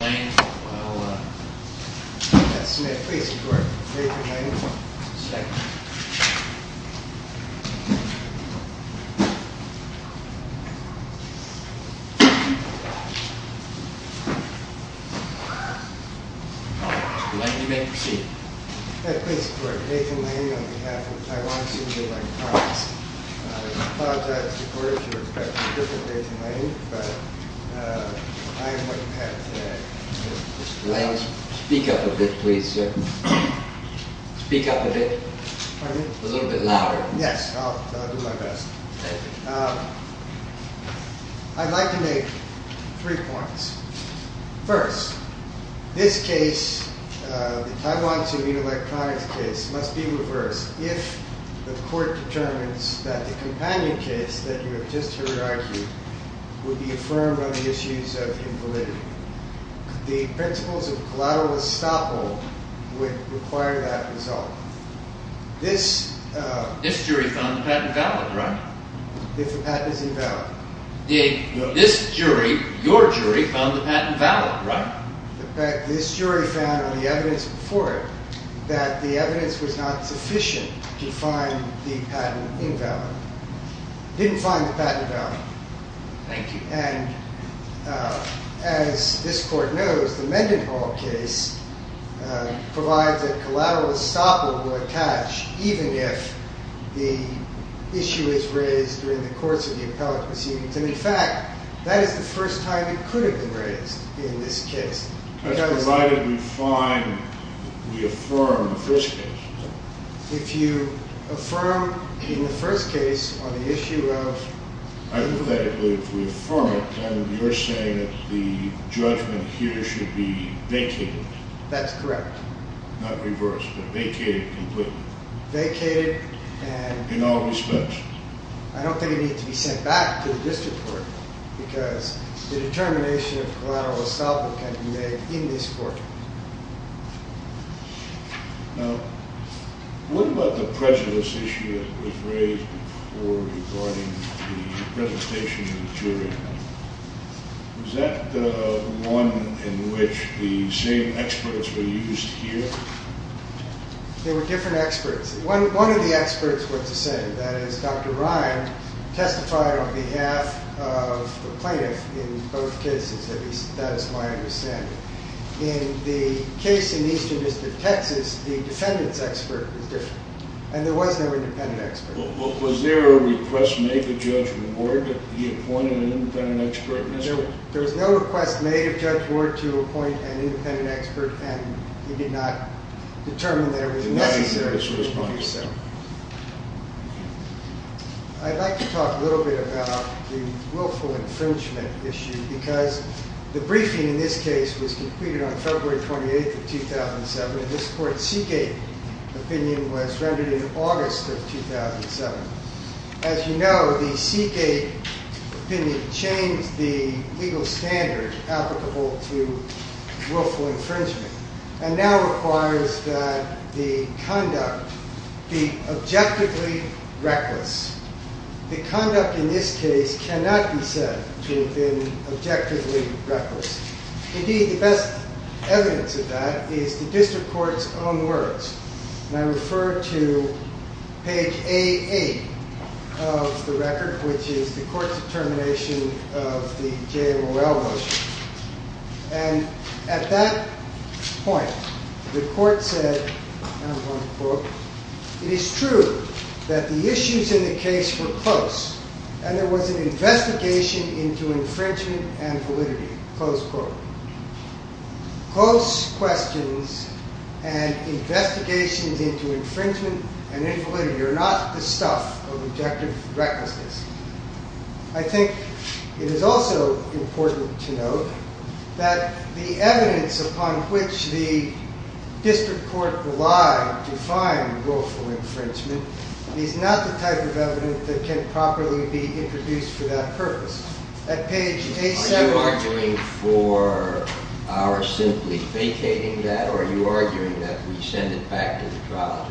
May I please report, Nathan Lane on behalf of Taiwan Sumida Bank Products. I apologize to the reporters who were expecting a different Nathan Lane, but I am what you have today. Mr. Lane, speak up a bit, please, sir. Speak up a bit. Pardon me? A little bit louder. Yes, I'll do my best. Thank you. I'd like to make three points. First, this case, the Taiwan Sumida Electronics case, must be reversed if the court determines that the companion case that you have just heard argued would be affirmed on the issues of invalidity. The principles of collateral estoppel would require that result. This jury found the patent valid, right? If the patent is invalid. This jury, your jury, found the patent valid, right? This jury found on the evidence before it that the evidence was not sufficient to find the patent invalid. It didn't find the patent valid. Thank you. And as this court knows, the Mendenhall case provides that collateral estoppel will attach even if the issue is raised during the course of the appellate proceedings. And in fact, that is the first time it could have been raised in this case. That's provided we find, we affirm the first case. If you affirm in the first case on the issue of... I think that if we affirm it, then you're saying that the judgment here should be vacated. That's correct. Not reversed, but vacated completely. Vacated and... In all respects. I don't think it needs to be sent back to the district court, because the determination of collateral estoppel can be made in this court. Now, what about the prejudice issue that was raised before regarding the presentation of the jury? Was that one in which the same experts were used here? They were different experts. One of the experts was the same. That is, Dr. Ryan testified on behalf of the plaintiff in both cases. That is my understanding. In the case in Eastern District, Texas, the defendant's expert was different. And there was no independent expert. Was there a request made to Judge Ward that he appointed an independent expert? There was no request made of Judge Ward to appoint an independent expert, and he did not determine that it was necessary to do so. I'd like to talk a little bit about the willful infringement issue, because the briefing in this case was completed on February 28th of 2007, and this court's Seagate opinion was rendered in August of 2007. As you know, the Seagate opinion changed the legal standard applicable to willful infringement and now requires that the conduct be objectively reckless. The conduct in this case cannot be said to have been objectively reckless. Indeed, the best evidence of that is the District Court's own words. And I refer to page A8 of the record, which is the court's determination of the J.L. Morell motion. And at that point, the court said, and I'm going to quote, it is true that the issues in the case were close, and there was an investigation into infringement and validity. Close quote. Close questions and investigations into infringement and invalidity are not the stuff of objective recklessness. I think it is also important to note that the evidence upon which the District Court relied to find willful infringement is not the type of evidence that can properly be introduced for that purpose. Are you arguing for our simply vacating that, or are you arguing that we send it back to the trial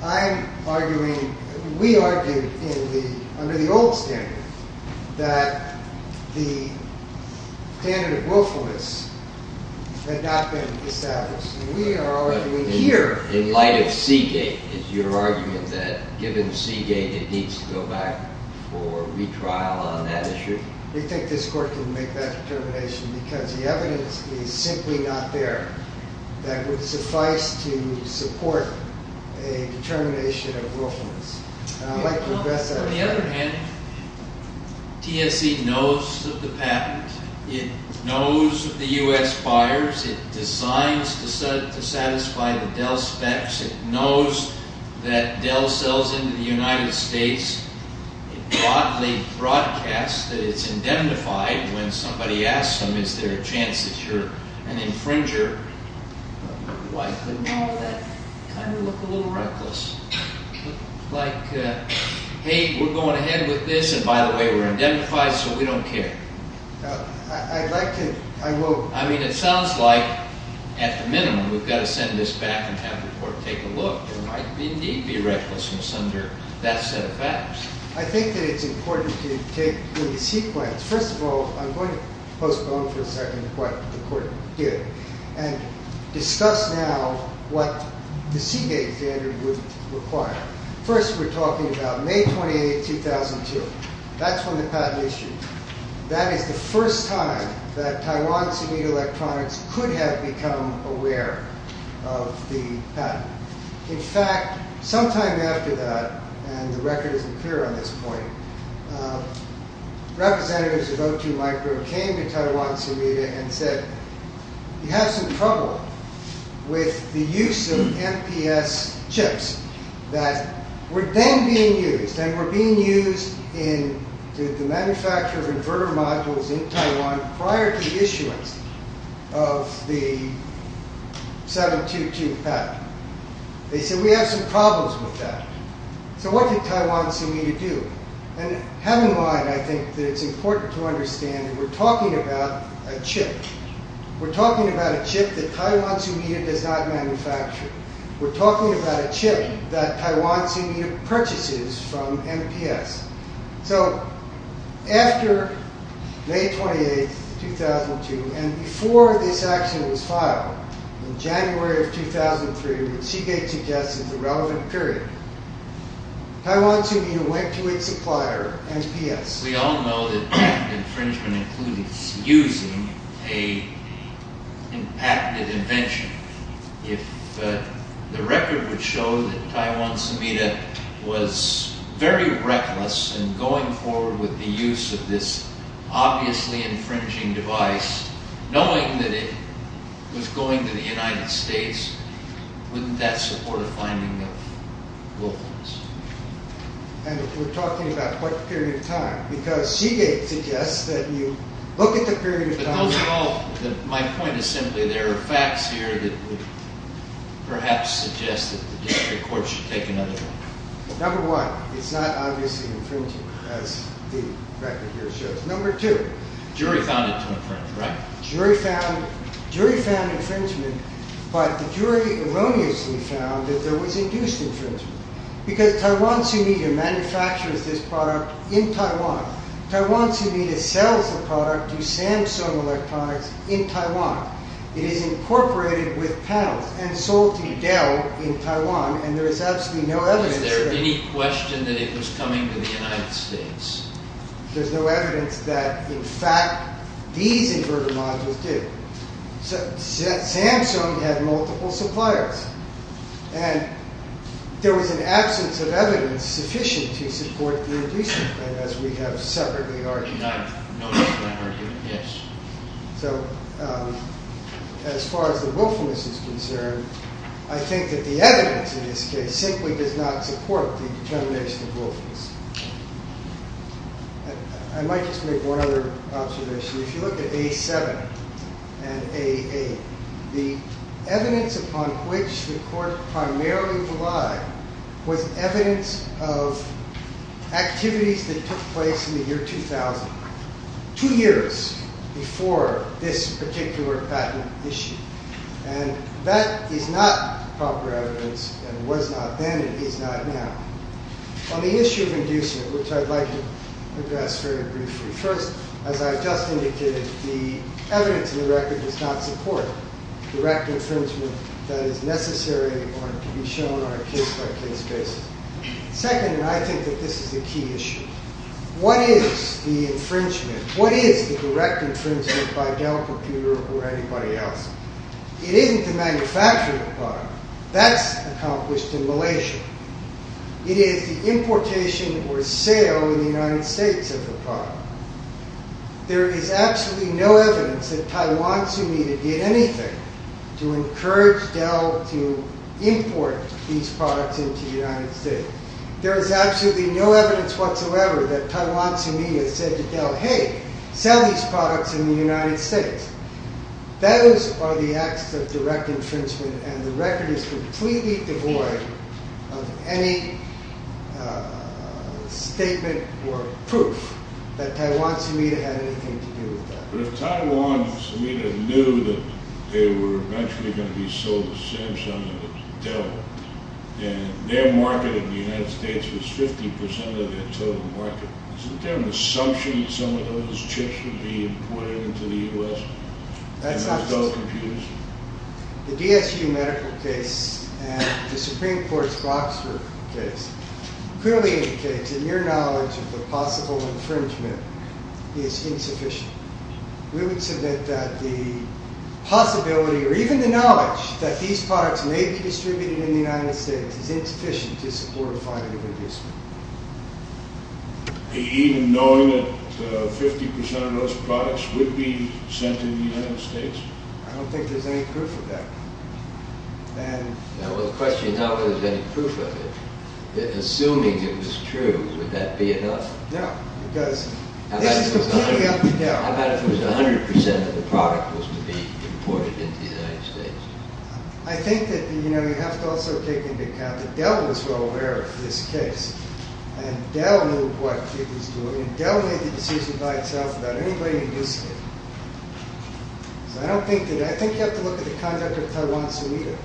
object? We argued under the old standard that the standard of willfulness had not been established. In light of Seagate, is your argument that given Seagate, it needs to go back for retrial on that issue? We think this court can make that determination because the evidence is simply not there that would suffice to support a determination of willfulness. On the other hand, TSC knows of the patent. It knows of the U.S. buyers. It decides to satisfy the Dell specs. It knows that Dell sells into the United States. It broadly broadcasts that it is indemnified when somebody asks them, is there a chance that you are an infringer? Why couldn't all of that kind of look a little reckless? Like, hey, we are going ahead with this, and by the way, we are indemnified, so we don't care. I mean, it sounds like, at the minimum, we've got to send this back and have the court take a look. There might indeed be recklessness under that set of factors. I think that it's important to take the sequence. First of all, I'm going to postpone for a second what the court did and discuss now what the Seagate standard would require. First, we're talking about May 28, 2002. That's when the patent issued. That is the first time that Taiwan Semida Electronics could have become aware of the patent. In fact, sometime after that, and the record isn't clear on this point, representatives of O2 Micro came to Taiwan Semida and said, you have some trouble with the use of MPS chips that were then being used, that were being used in the manufacture of inverter modules in Taiwan prior to the issuance of the 722 patent. They said, we have some problems with that. So what did Taiwan Semida do? And have in mind, I think, that it's important to understand that we're talking about a chip. We're talking about a chip that Taiwan Semida does not manufacture. We're talking about a chip that Taiwan Semida purchases from MPS. So after May 28, 2002, and before this action was filed, in January of 2003, which Seagate suggests is the relevant period, Taiwan Semida went to its supplier, MPS. We all know that patent infringement includes using a patented invention. If the record would show that Taiwan Semida was very reckless in going forward with the use of this obviously infringing device, knowing that it was going to the United States, wouldn't that support a finding of Wilkins? And if we're talking about what period of time? Because Seagate suggests that you look at the period of time. But those are all, my point is simply there are facts here that would perhaps suggest that the district court should take another look. Number one, it's not obviously infringing, as the record here shows. Number two. Jury found it to infringe, right? Jury found infringement, but the jury erroneously found that there was induced infringement. Because Taiwan Semida manufactures this product in Taiwan. Taiwan Semida sells the product to Samsung Electronics in Taiwan. It is incorporated with panels and sold to Dell in Taiwan, and there is absolutely no evidence there. Is there any question that it was coming to the United States? There's no evidence that, in fact, these inverter modules do. Samsung had multiple suppliers. And there was an absence of evidence sufficient to support the induced infringement, as we have separately argued. And I've noticed that argument, yes. So as far as the willfulness is concerned, I think that the evidence in this case simply does not support the determination of willfulness. I might just make one other observation. If you look at A7 and A8, the evidence upon which the court primarily relied was evidence of activities that took place in the year 2000, two years before this particular patent issue. And that is not proper evidence, and was not then, and is not now. On the issue of inducement, which I'd like to address very briefly. First, as I just indicated, the evidence in the record does not support direct infringement that is necessary or to be shown on a case-by-case basis. Second, and I think that this is a key issue. What is the infringement? What is the direct infringement by Dell Computer or anybody else? It isn't the manufacturing of the product. That's accomplished in Malaysia. It is the importation or sale in the United States of the product. There is absolutely no evidence that Taiwan Tsumida did anything to encourage Dell to import these products into the United States. There is absolutely no evidence whatsoever that Taiwan Tsumida said to Dell, hey, sell these products in the United States. Those are the acts of direct infringement, and the record is completely devoid of any statement or proof that Taiwan Tsumida had anything to do with that. But if Taiwan Tsumida knew that they were eventually going to be sold to Samsung or Dell, and their market in the United States was 50% of their total market, isn't there an assumption that some of those chips would be imported into the U.S.? The DSU medical case and the Supreme Court's Boxer case clearly indicate that your knowledge of the possible infringement is insufficient. We would submit that the possibility, or even the knowledge, that these products may be distributed in the United States is insufficient to support a fine of industry. Even knowing that 50% of those products would be sent to the United States? I don't think there's any proof of that. The question is not whether there's any proof of it. Assuming it was true, would that be enough? No, because this is completely up to Dell. How about if it was 100% of the product was to be imported into the United States? I think that you have to also take into account that Dell was well aware of this case. Dell knew what it was doing. Dell made the decision by itself without anybody inducing it. I think you have to look at the conduct of Taiwan Sumida.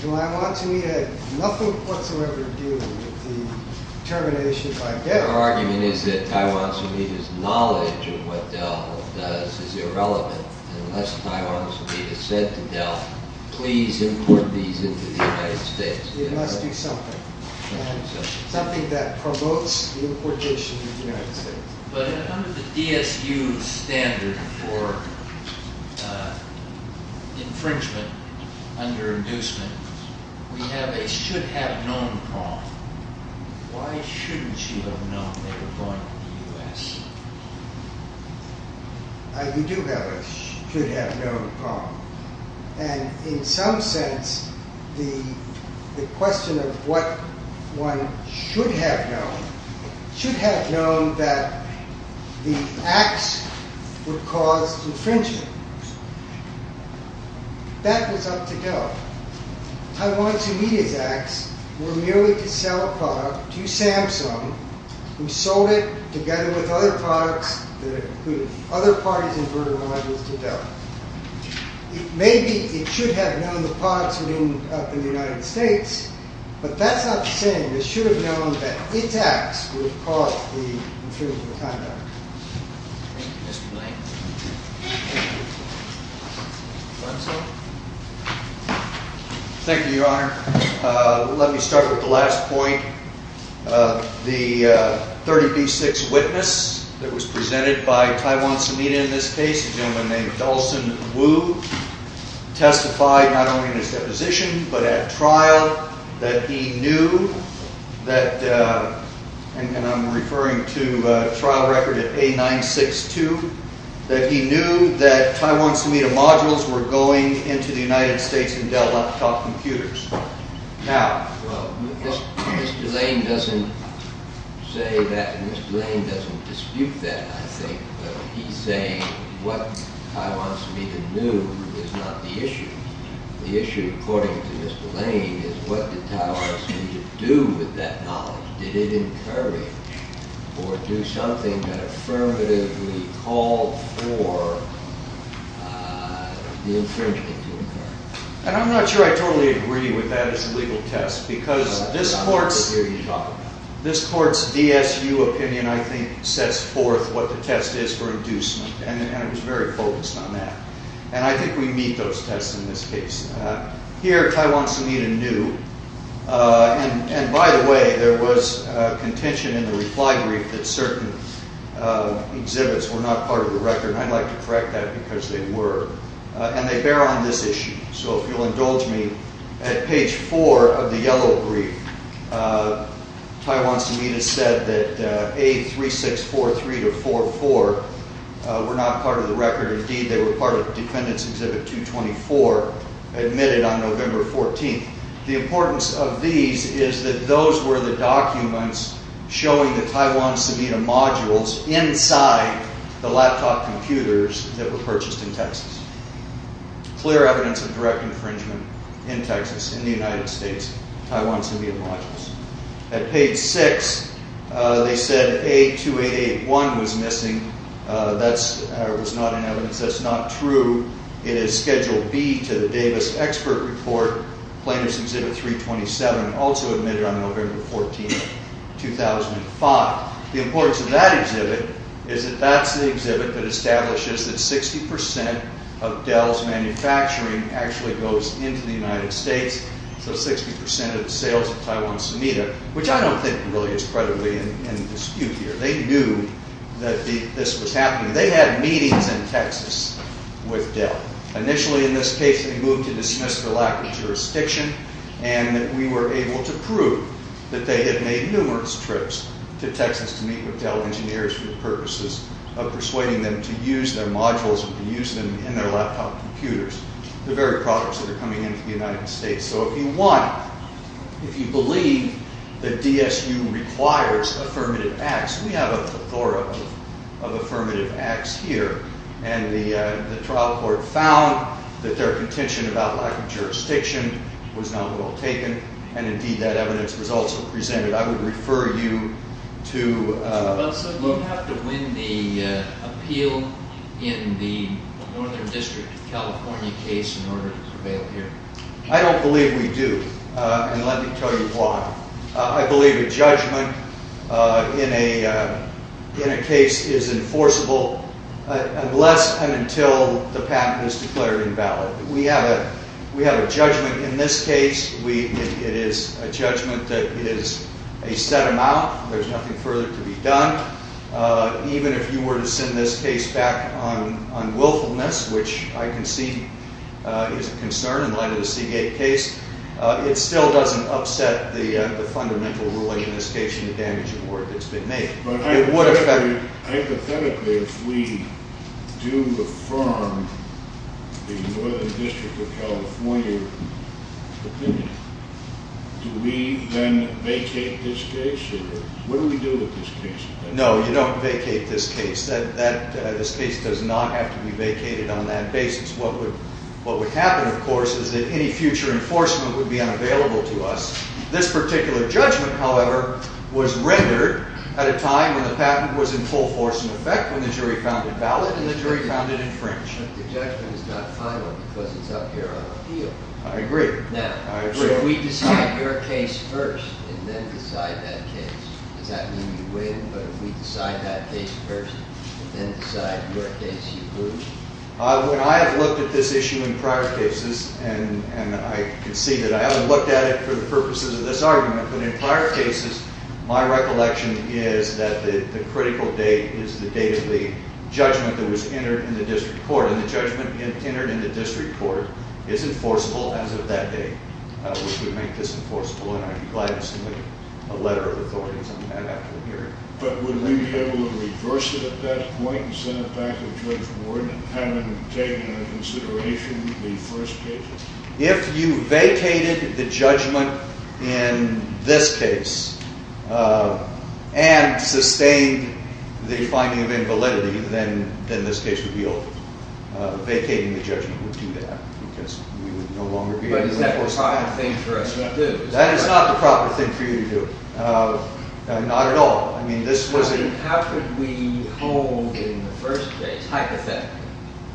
Taiwan Sumida had nothing whatsoever to do with the termination by Dell. Your argument is that Taiwan Sumida's knowledge of what Dell does is irrelevant. Unless Taiwan Sumida said to Dell, please import these into the United States. It must be something. Something that promotes the importation of the United States. Under the DSU standard for infringement under inducement, we have a should-have-known problem. Why shouldn't you have known they were going to the U.S.? You do have a should-have-known problem. In some sense, the question of what one should have known, should have known that the acts would cause infringement. That was up to Dell. Taiwan Sumida's acts were merely to sell a product to Samsung, who sold it together with other products, that included other parties involved with Dell. Maybe it should have known the products would end up in the United States, but that's not the same. It should have known that its acts would cause the infringement of the conduct. Thank you, Mr. Blank. Thank you, Your Honor. Let me start with the last point. The 30B6 witness that was presented by Taiwan Sumida in this case, a gentleman named Dawson Wu, testified not only in his deposition, but at trial, that he knew that, and I'm referring to a trial record at A962, that he knew that Taiwan Sumida modules were going into the United States and Dell laptop computers. Now... Well, Mr. Blank doesn't say that, and Mr. Blank doesn't dispute that, I think. But he's saying what Taiwan Sumida knew is not the issue. The issue, according to Mr. Blank, is what did Taiwan Sumida do with that knowledge? Did it encourage or do something that affirmatively called for the infringement to occur? And I'm not sure I totally agree with that as a legal test, because this court's DSU opinion, I think, sets forth what the test is for inducement, and it was very focused on that. And I think we meet those tests in this case. Here, Taiwan Sumida knew, and by the way, there was contention in the reply brief that certain exhibits were not part of the record, and I'd like to correct that, because they were. And they bear on this issue. So if you'll indulge me, at page four of the yellow brief, Taiwan Sumida said that A3643-44 were not part of the record. Indeed, they were part of Defendant's Exhibit 224, admitted on November 14th. The importance of these is that those were the documents showing the Taiwan Sumida modules inside the laptop computers that were purchased in Texas. Clear evidence of direct infringement in Texas, in the United States, Taiwan Sumida modules. At page six, they said A2881 was missing. That was not in evidence. That's not true. It is Schedule B to the Davis Expert Report, Plaintiff's Exhibit 327, also admitted on November 14th, 2005. The importance of that exhibit is that that's the exhibit that establishes that 60% of Dell's manufacturing actually goes into the United States, so 60% of the sales of Taiwan Sumida, which I don't think really is credibly in dispute here. They knew that this was happening. They had meetings in Texas with Dell. Initially, in this case, they moved to dismiss the lack of jurisdiction, and we were able to prove that they had made numerous trips to Texas to meet with Dell engineers for the purposes of persuading them to use their modules and to use them in their laptop computers, the very products that are coming into the United States. So if you want, if you believe that DSU requires affirmative acts, we have a plethora of affirmative acts here, and the trial court found that their contention about lack of jurisdiction was not well taken, and indeed that evidence was also presented. I would refer you to... So do we have to win the appeal in the Northern District of California case in order to prevail here? I don't believe we do, and let me tell you why. I believe a judgment in a case is enforceable unless and until the patent is declared invalid. We have a judgment in this case. It is a judgment that is a set amount. There's nothing further to be done. Even if you were to send this case back on willfulness, which I can see is a concern in light of the Seagate case, it still doesn't upset the fundamental ruling in this case and the damage award that's been made. Hypothetically, if we do affirm the Northern District of California opinion, do we then vacate this case? What do we do with this case? No, you don't vacate this case. This case does not have to be vacated on that basis. What would happen, of course, is that any future enforcement would be unavailable to us. This particular judgment, however, was rendered at a time when the patent was in full force in effect, when the jury found it valid and the jury found it infringed. The judgment is not final because it's up here on appeal. I agree. Now, if we decide your case first and then decide that case, does that mean you win? But if we decide that case first and then decide your case, you lose? When I have looked at this issue in prior cases, and I can see that I haven't looked at it for the purposes of this argument, but in prior cases, my recollection is that the critical date is the date of the judgment that was entered in the district court, and the judgment entered in the district court is enforceable as of that date, which would make this enforceable, and I'd be glad to submit a letter of authority on that after the hearing. But would we be able to reverse it at that point and send it back to the Judge Board and have them take into consideration the first case? If you vacated the judgment in this case and sustained the finding of invalidity, then this case would be over. Vacating the judgment would do that because we would no longer be able to enforce it. But is that the proper thing for us to do? That is not the proper thing for you to do. Not at all. How could we hold in the first case, hypothetically,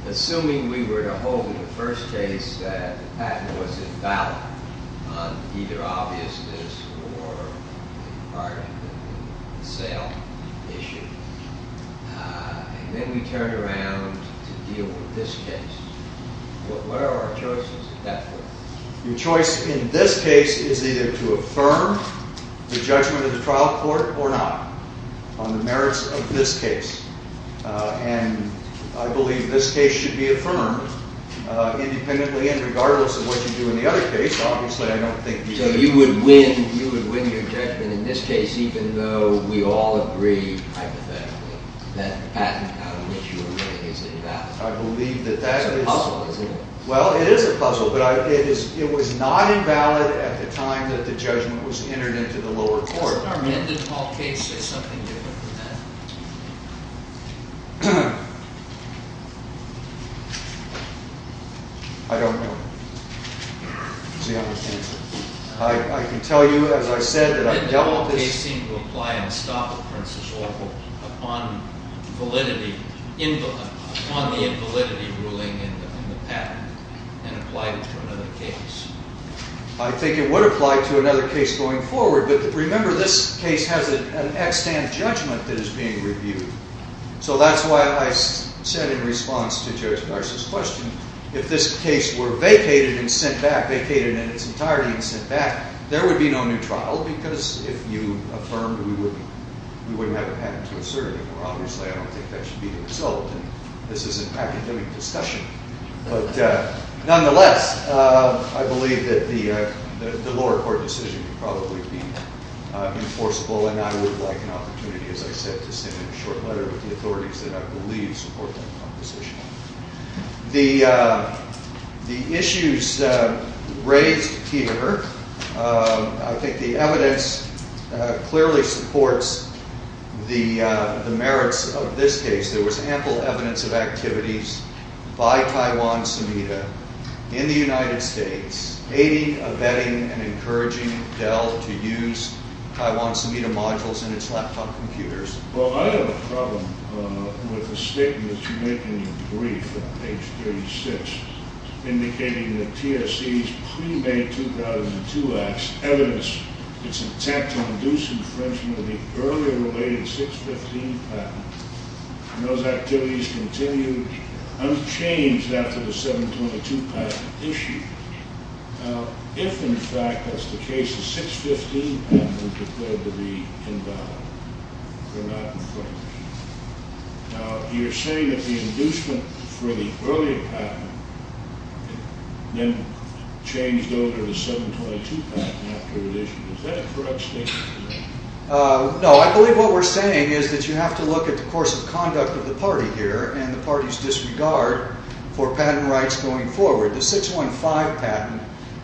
assuming we were to hold in the first case that the patent was invalid on either obviousness or the sale issue, and then we turned around to deal with this case. What are our choices at that point? Your choice in this case is either to affirm the judgment of the trial court or not on the merits of this case. And I believe this case should be affirmed independently and regardless of what you do in the other case. Obviously, I don't think you would win. So you would win your judgment in this case even though we all agree, hypothetically, that the patent on an issue of money is invalid. I believe that that is… It's a puzzle, isn't it? Well, it is a puzzle, but it was not invalid at the time that the judgment was entered into the lower court. Didn't the Hall case say something different than that? I don't know. I can tell you, as I said, that I dealt with this… …and applied it to another case. I think it would apply to another case going forward. But remember, this case has an extant judgment that is being reviewed. So that's why I said in response to Judge Barsh's question, if this case were vacated and sent back, vacated in its entirety and sent back, there would be no new trial because if you affirmed, we wouldn't have a patent to assert anymore. Obviously, I don't think that should be the result. This is an academic discussion. But nonetheless, I believe that the lower court decision would probably be enforceable. And I would like an opportunity, as I said, to send a short letter to the authorities that I believe support that proposition. The issues raised here, I think the evidence clearly supports the merits of this case. There was ample evidence of activities by Taiwan-Semida in the United States, aiding, abetting, and encouraging Dell to use Taiwan-Semida modules in its laptop computers. Well, I have a problem with the statement that you make in your brief on page 36, indicating that TSC's pre-May 2002 act's evidence is intact to induce infringement of the earlier related 615 patent. And those activities continue unchanged after the 722 patent issue. Now, if in fact that's the case, the 615 patent would be declared to be invalid. They're not infringed. Now, you're saying that the inducement for the earlier patent then changed over to the 722 patent after it issued. Is that a correct statement? No, I believe what we're saying is that you have to look at the course of conduct of the party here and the party's disregard for patent rights going forward. The 615 patent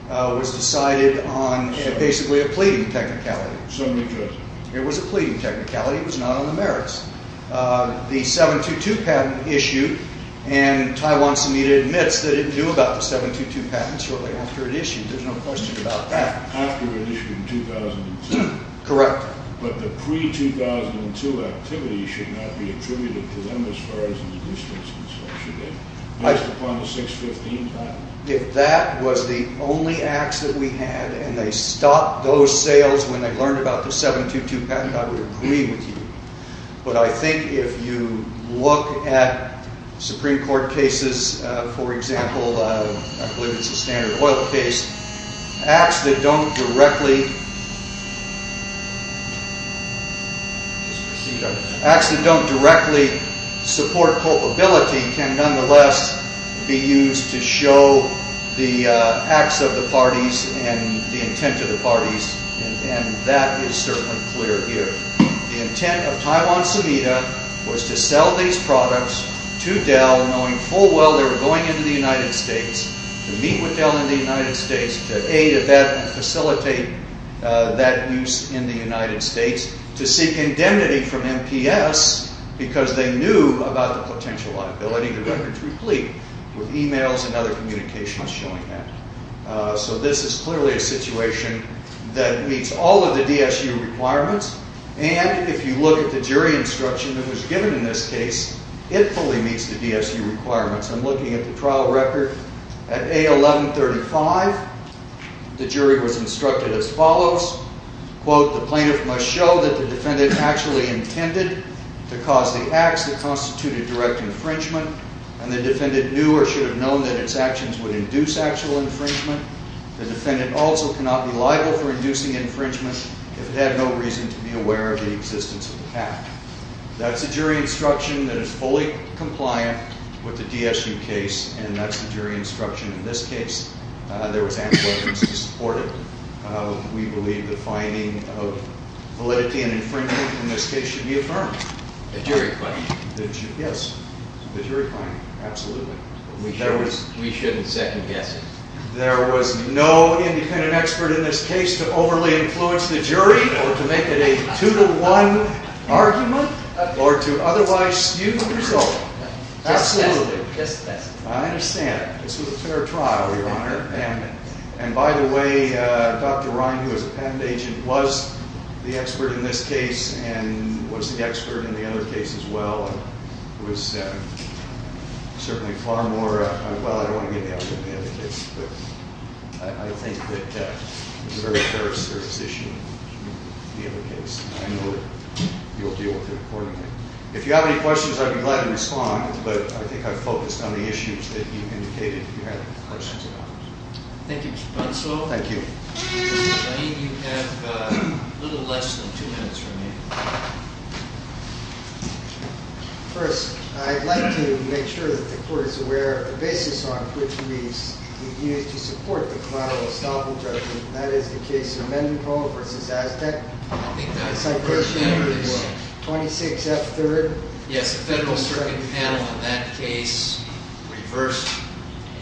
was decided on basically a pleading technicality. It was a pleading technicality. It was not on the merits. The 722 patent issue, and Taiwan-Semida admits that it knew about the 722 patent shortly after it issued. There's no question about that. After it issued in 2002. Correct. But the pre-2002 activity should not be attributed to them as far as inducements and so on should be. Based upon the 615 patent. If that was the only acts that we had and they stopped those sales when they learned about the 722 patent, I would agree with you. But I think if you look at Supreme Court cases, for example, I believe it's a standard oil case, acts that don't directly support culpability can nonetheless be used to show the acts of the parties and the intent of the parties. And that is certainly clear here. The intent of Taiwan-Semida was to sell these products to Dell knowing full well they were going into the United States to meet with Dell in the United States, to aid and facilitate that use in the United States, to seek indemnity from MPS because they knew about the potential liability of the records replete with emails and other communications showing that. So this is clearly a situation that meets all of the DSU requirements. And if you look at the jury instruction that was given in this case, it fully meets the DSU requirements. I'm looking at the trial record at A1135. The jury was instructed as follows. Quote, the plaintiff must show that the defendant actually intended to cause the acts that constitute a direct infringement and the defendant knew or should have known that its actions would induce actual infringement. The defendant also cannot be liable for inducing infringement if it had no reason to be aware of the existence of the act. That's the jury instruction that is fully compliant with the DSU case and that's the jury instruction in this case. There was ample evidence to support it. We believe the finding of validity and infringement in this case should be affirmed. The jury question. Yes, the jury finding, absolutely. We shouldn't second guess it. There was no independent expert in this case to overly influence the jury or to make it a two-to-one argument or to otherwise skew the result. Absolutely. I understand. This was a fair trial, Your Honor. And by the way, Dr. Ryan, who is a patent agent, was the expert in this case and was the expert in the other case as well. It was certainly far more, well, I don't want to get into the other case, but I think that it was a very fair position in the other case. I know you'll deal with it accordingly. If you have any questions, I'd be glad to respond, but I think I focused on the issues that you indicated you had questions about. Thank you, Mr. Brunslow. Thank you. Mr. Lane, you have a little less than two minutes remaining. First, I'd like to make sure that the Court is aware of the basis on which we've used to support the collateral estoppel judgment. That is the case of Mendenhall v. Aztec. I think that was the first hearing. 26F3rd. Yes, the Federal Circuit panel on that case reversed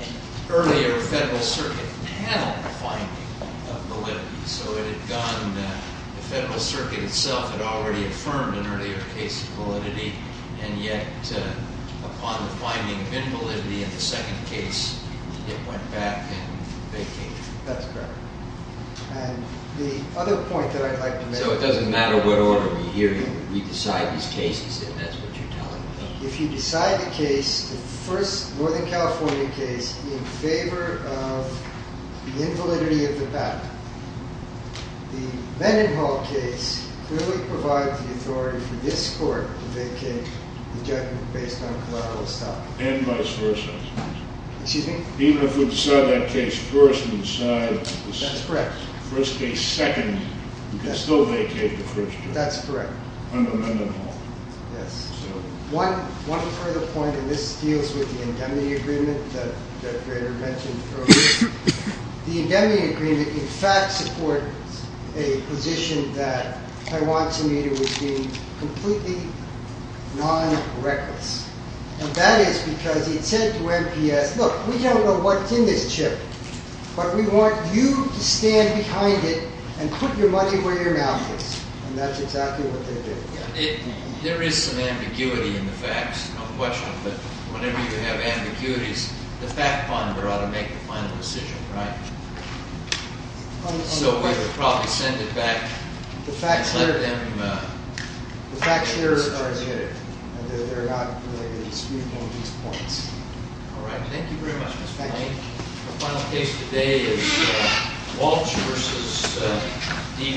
an earlier Federal Circuit panel finding of validity. So it had gone, the Federal Circuit itself had already affirmed an earlier case of validity, and yet upon the finding of invalidity in the second case, it went back and vacated. That's correct. And the other point that I'd like to make— So it doesn't matter what order we hear you. We decide these cases, and that's what you're telling me. If you decide the case, the first Northern California case, in favor of the invalidity of the patent, the Mendenhall case clearly provides the authority for this Court to vacate the judgment based on collateral estoppel. And vice versa. Excuse me? Even if we decide that case first and decide the first case second, we can still vacate the first case. That's correct. Under Mendenhall. Yes. One further point, and this deals with the indemnity agreement that Greta mentioned earlier. The indemnity agreement, in fact, supports a position that I want to meet with being completely non-reckless. And that is because it said to MPS, look, we don't know what's in this chip, but we want you to stand behind it and put your money where your mouth is. And that's exactly what they did. There is some ambiguity in the facts. No question. But whenever you have ambiguities, the fact finder ought to make the final decision, right? So we would probably send it back. The facts here are negative. They're not related to the scrutiny of these points. All right. Thank you very much, Mr. Blank. Thank you. Our final case today is Walsh v. Dewey.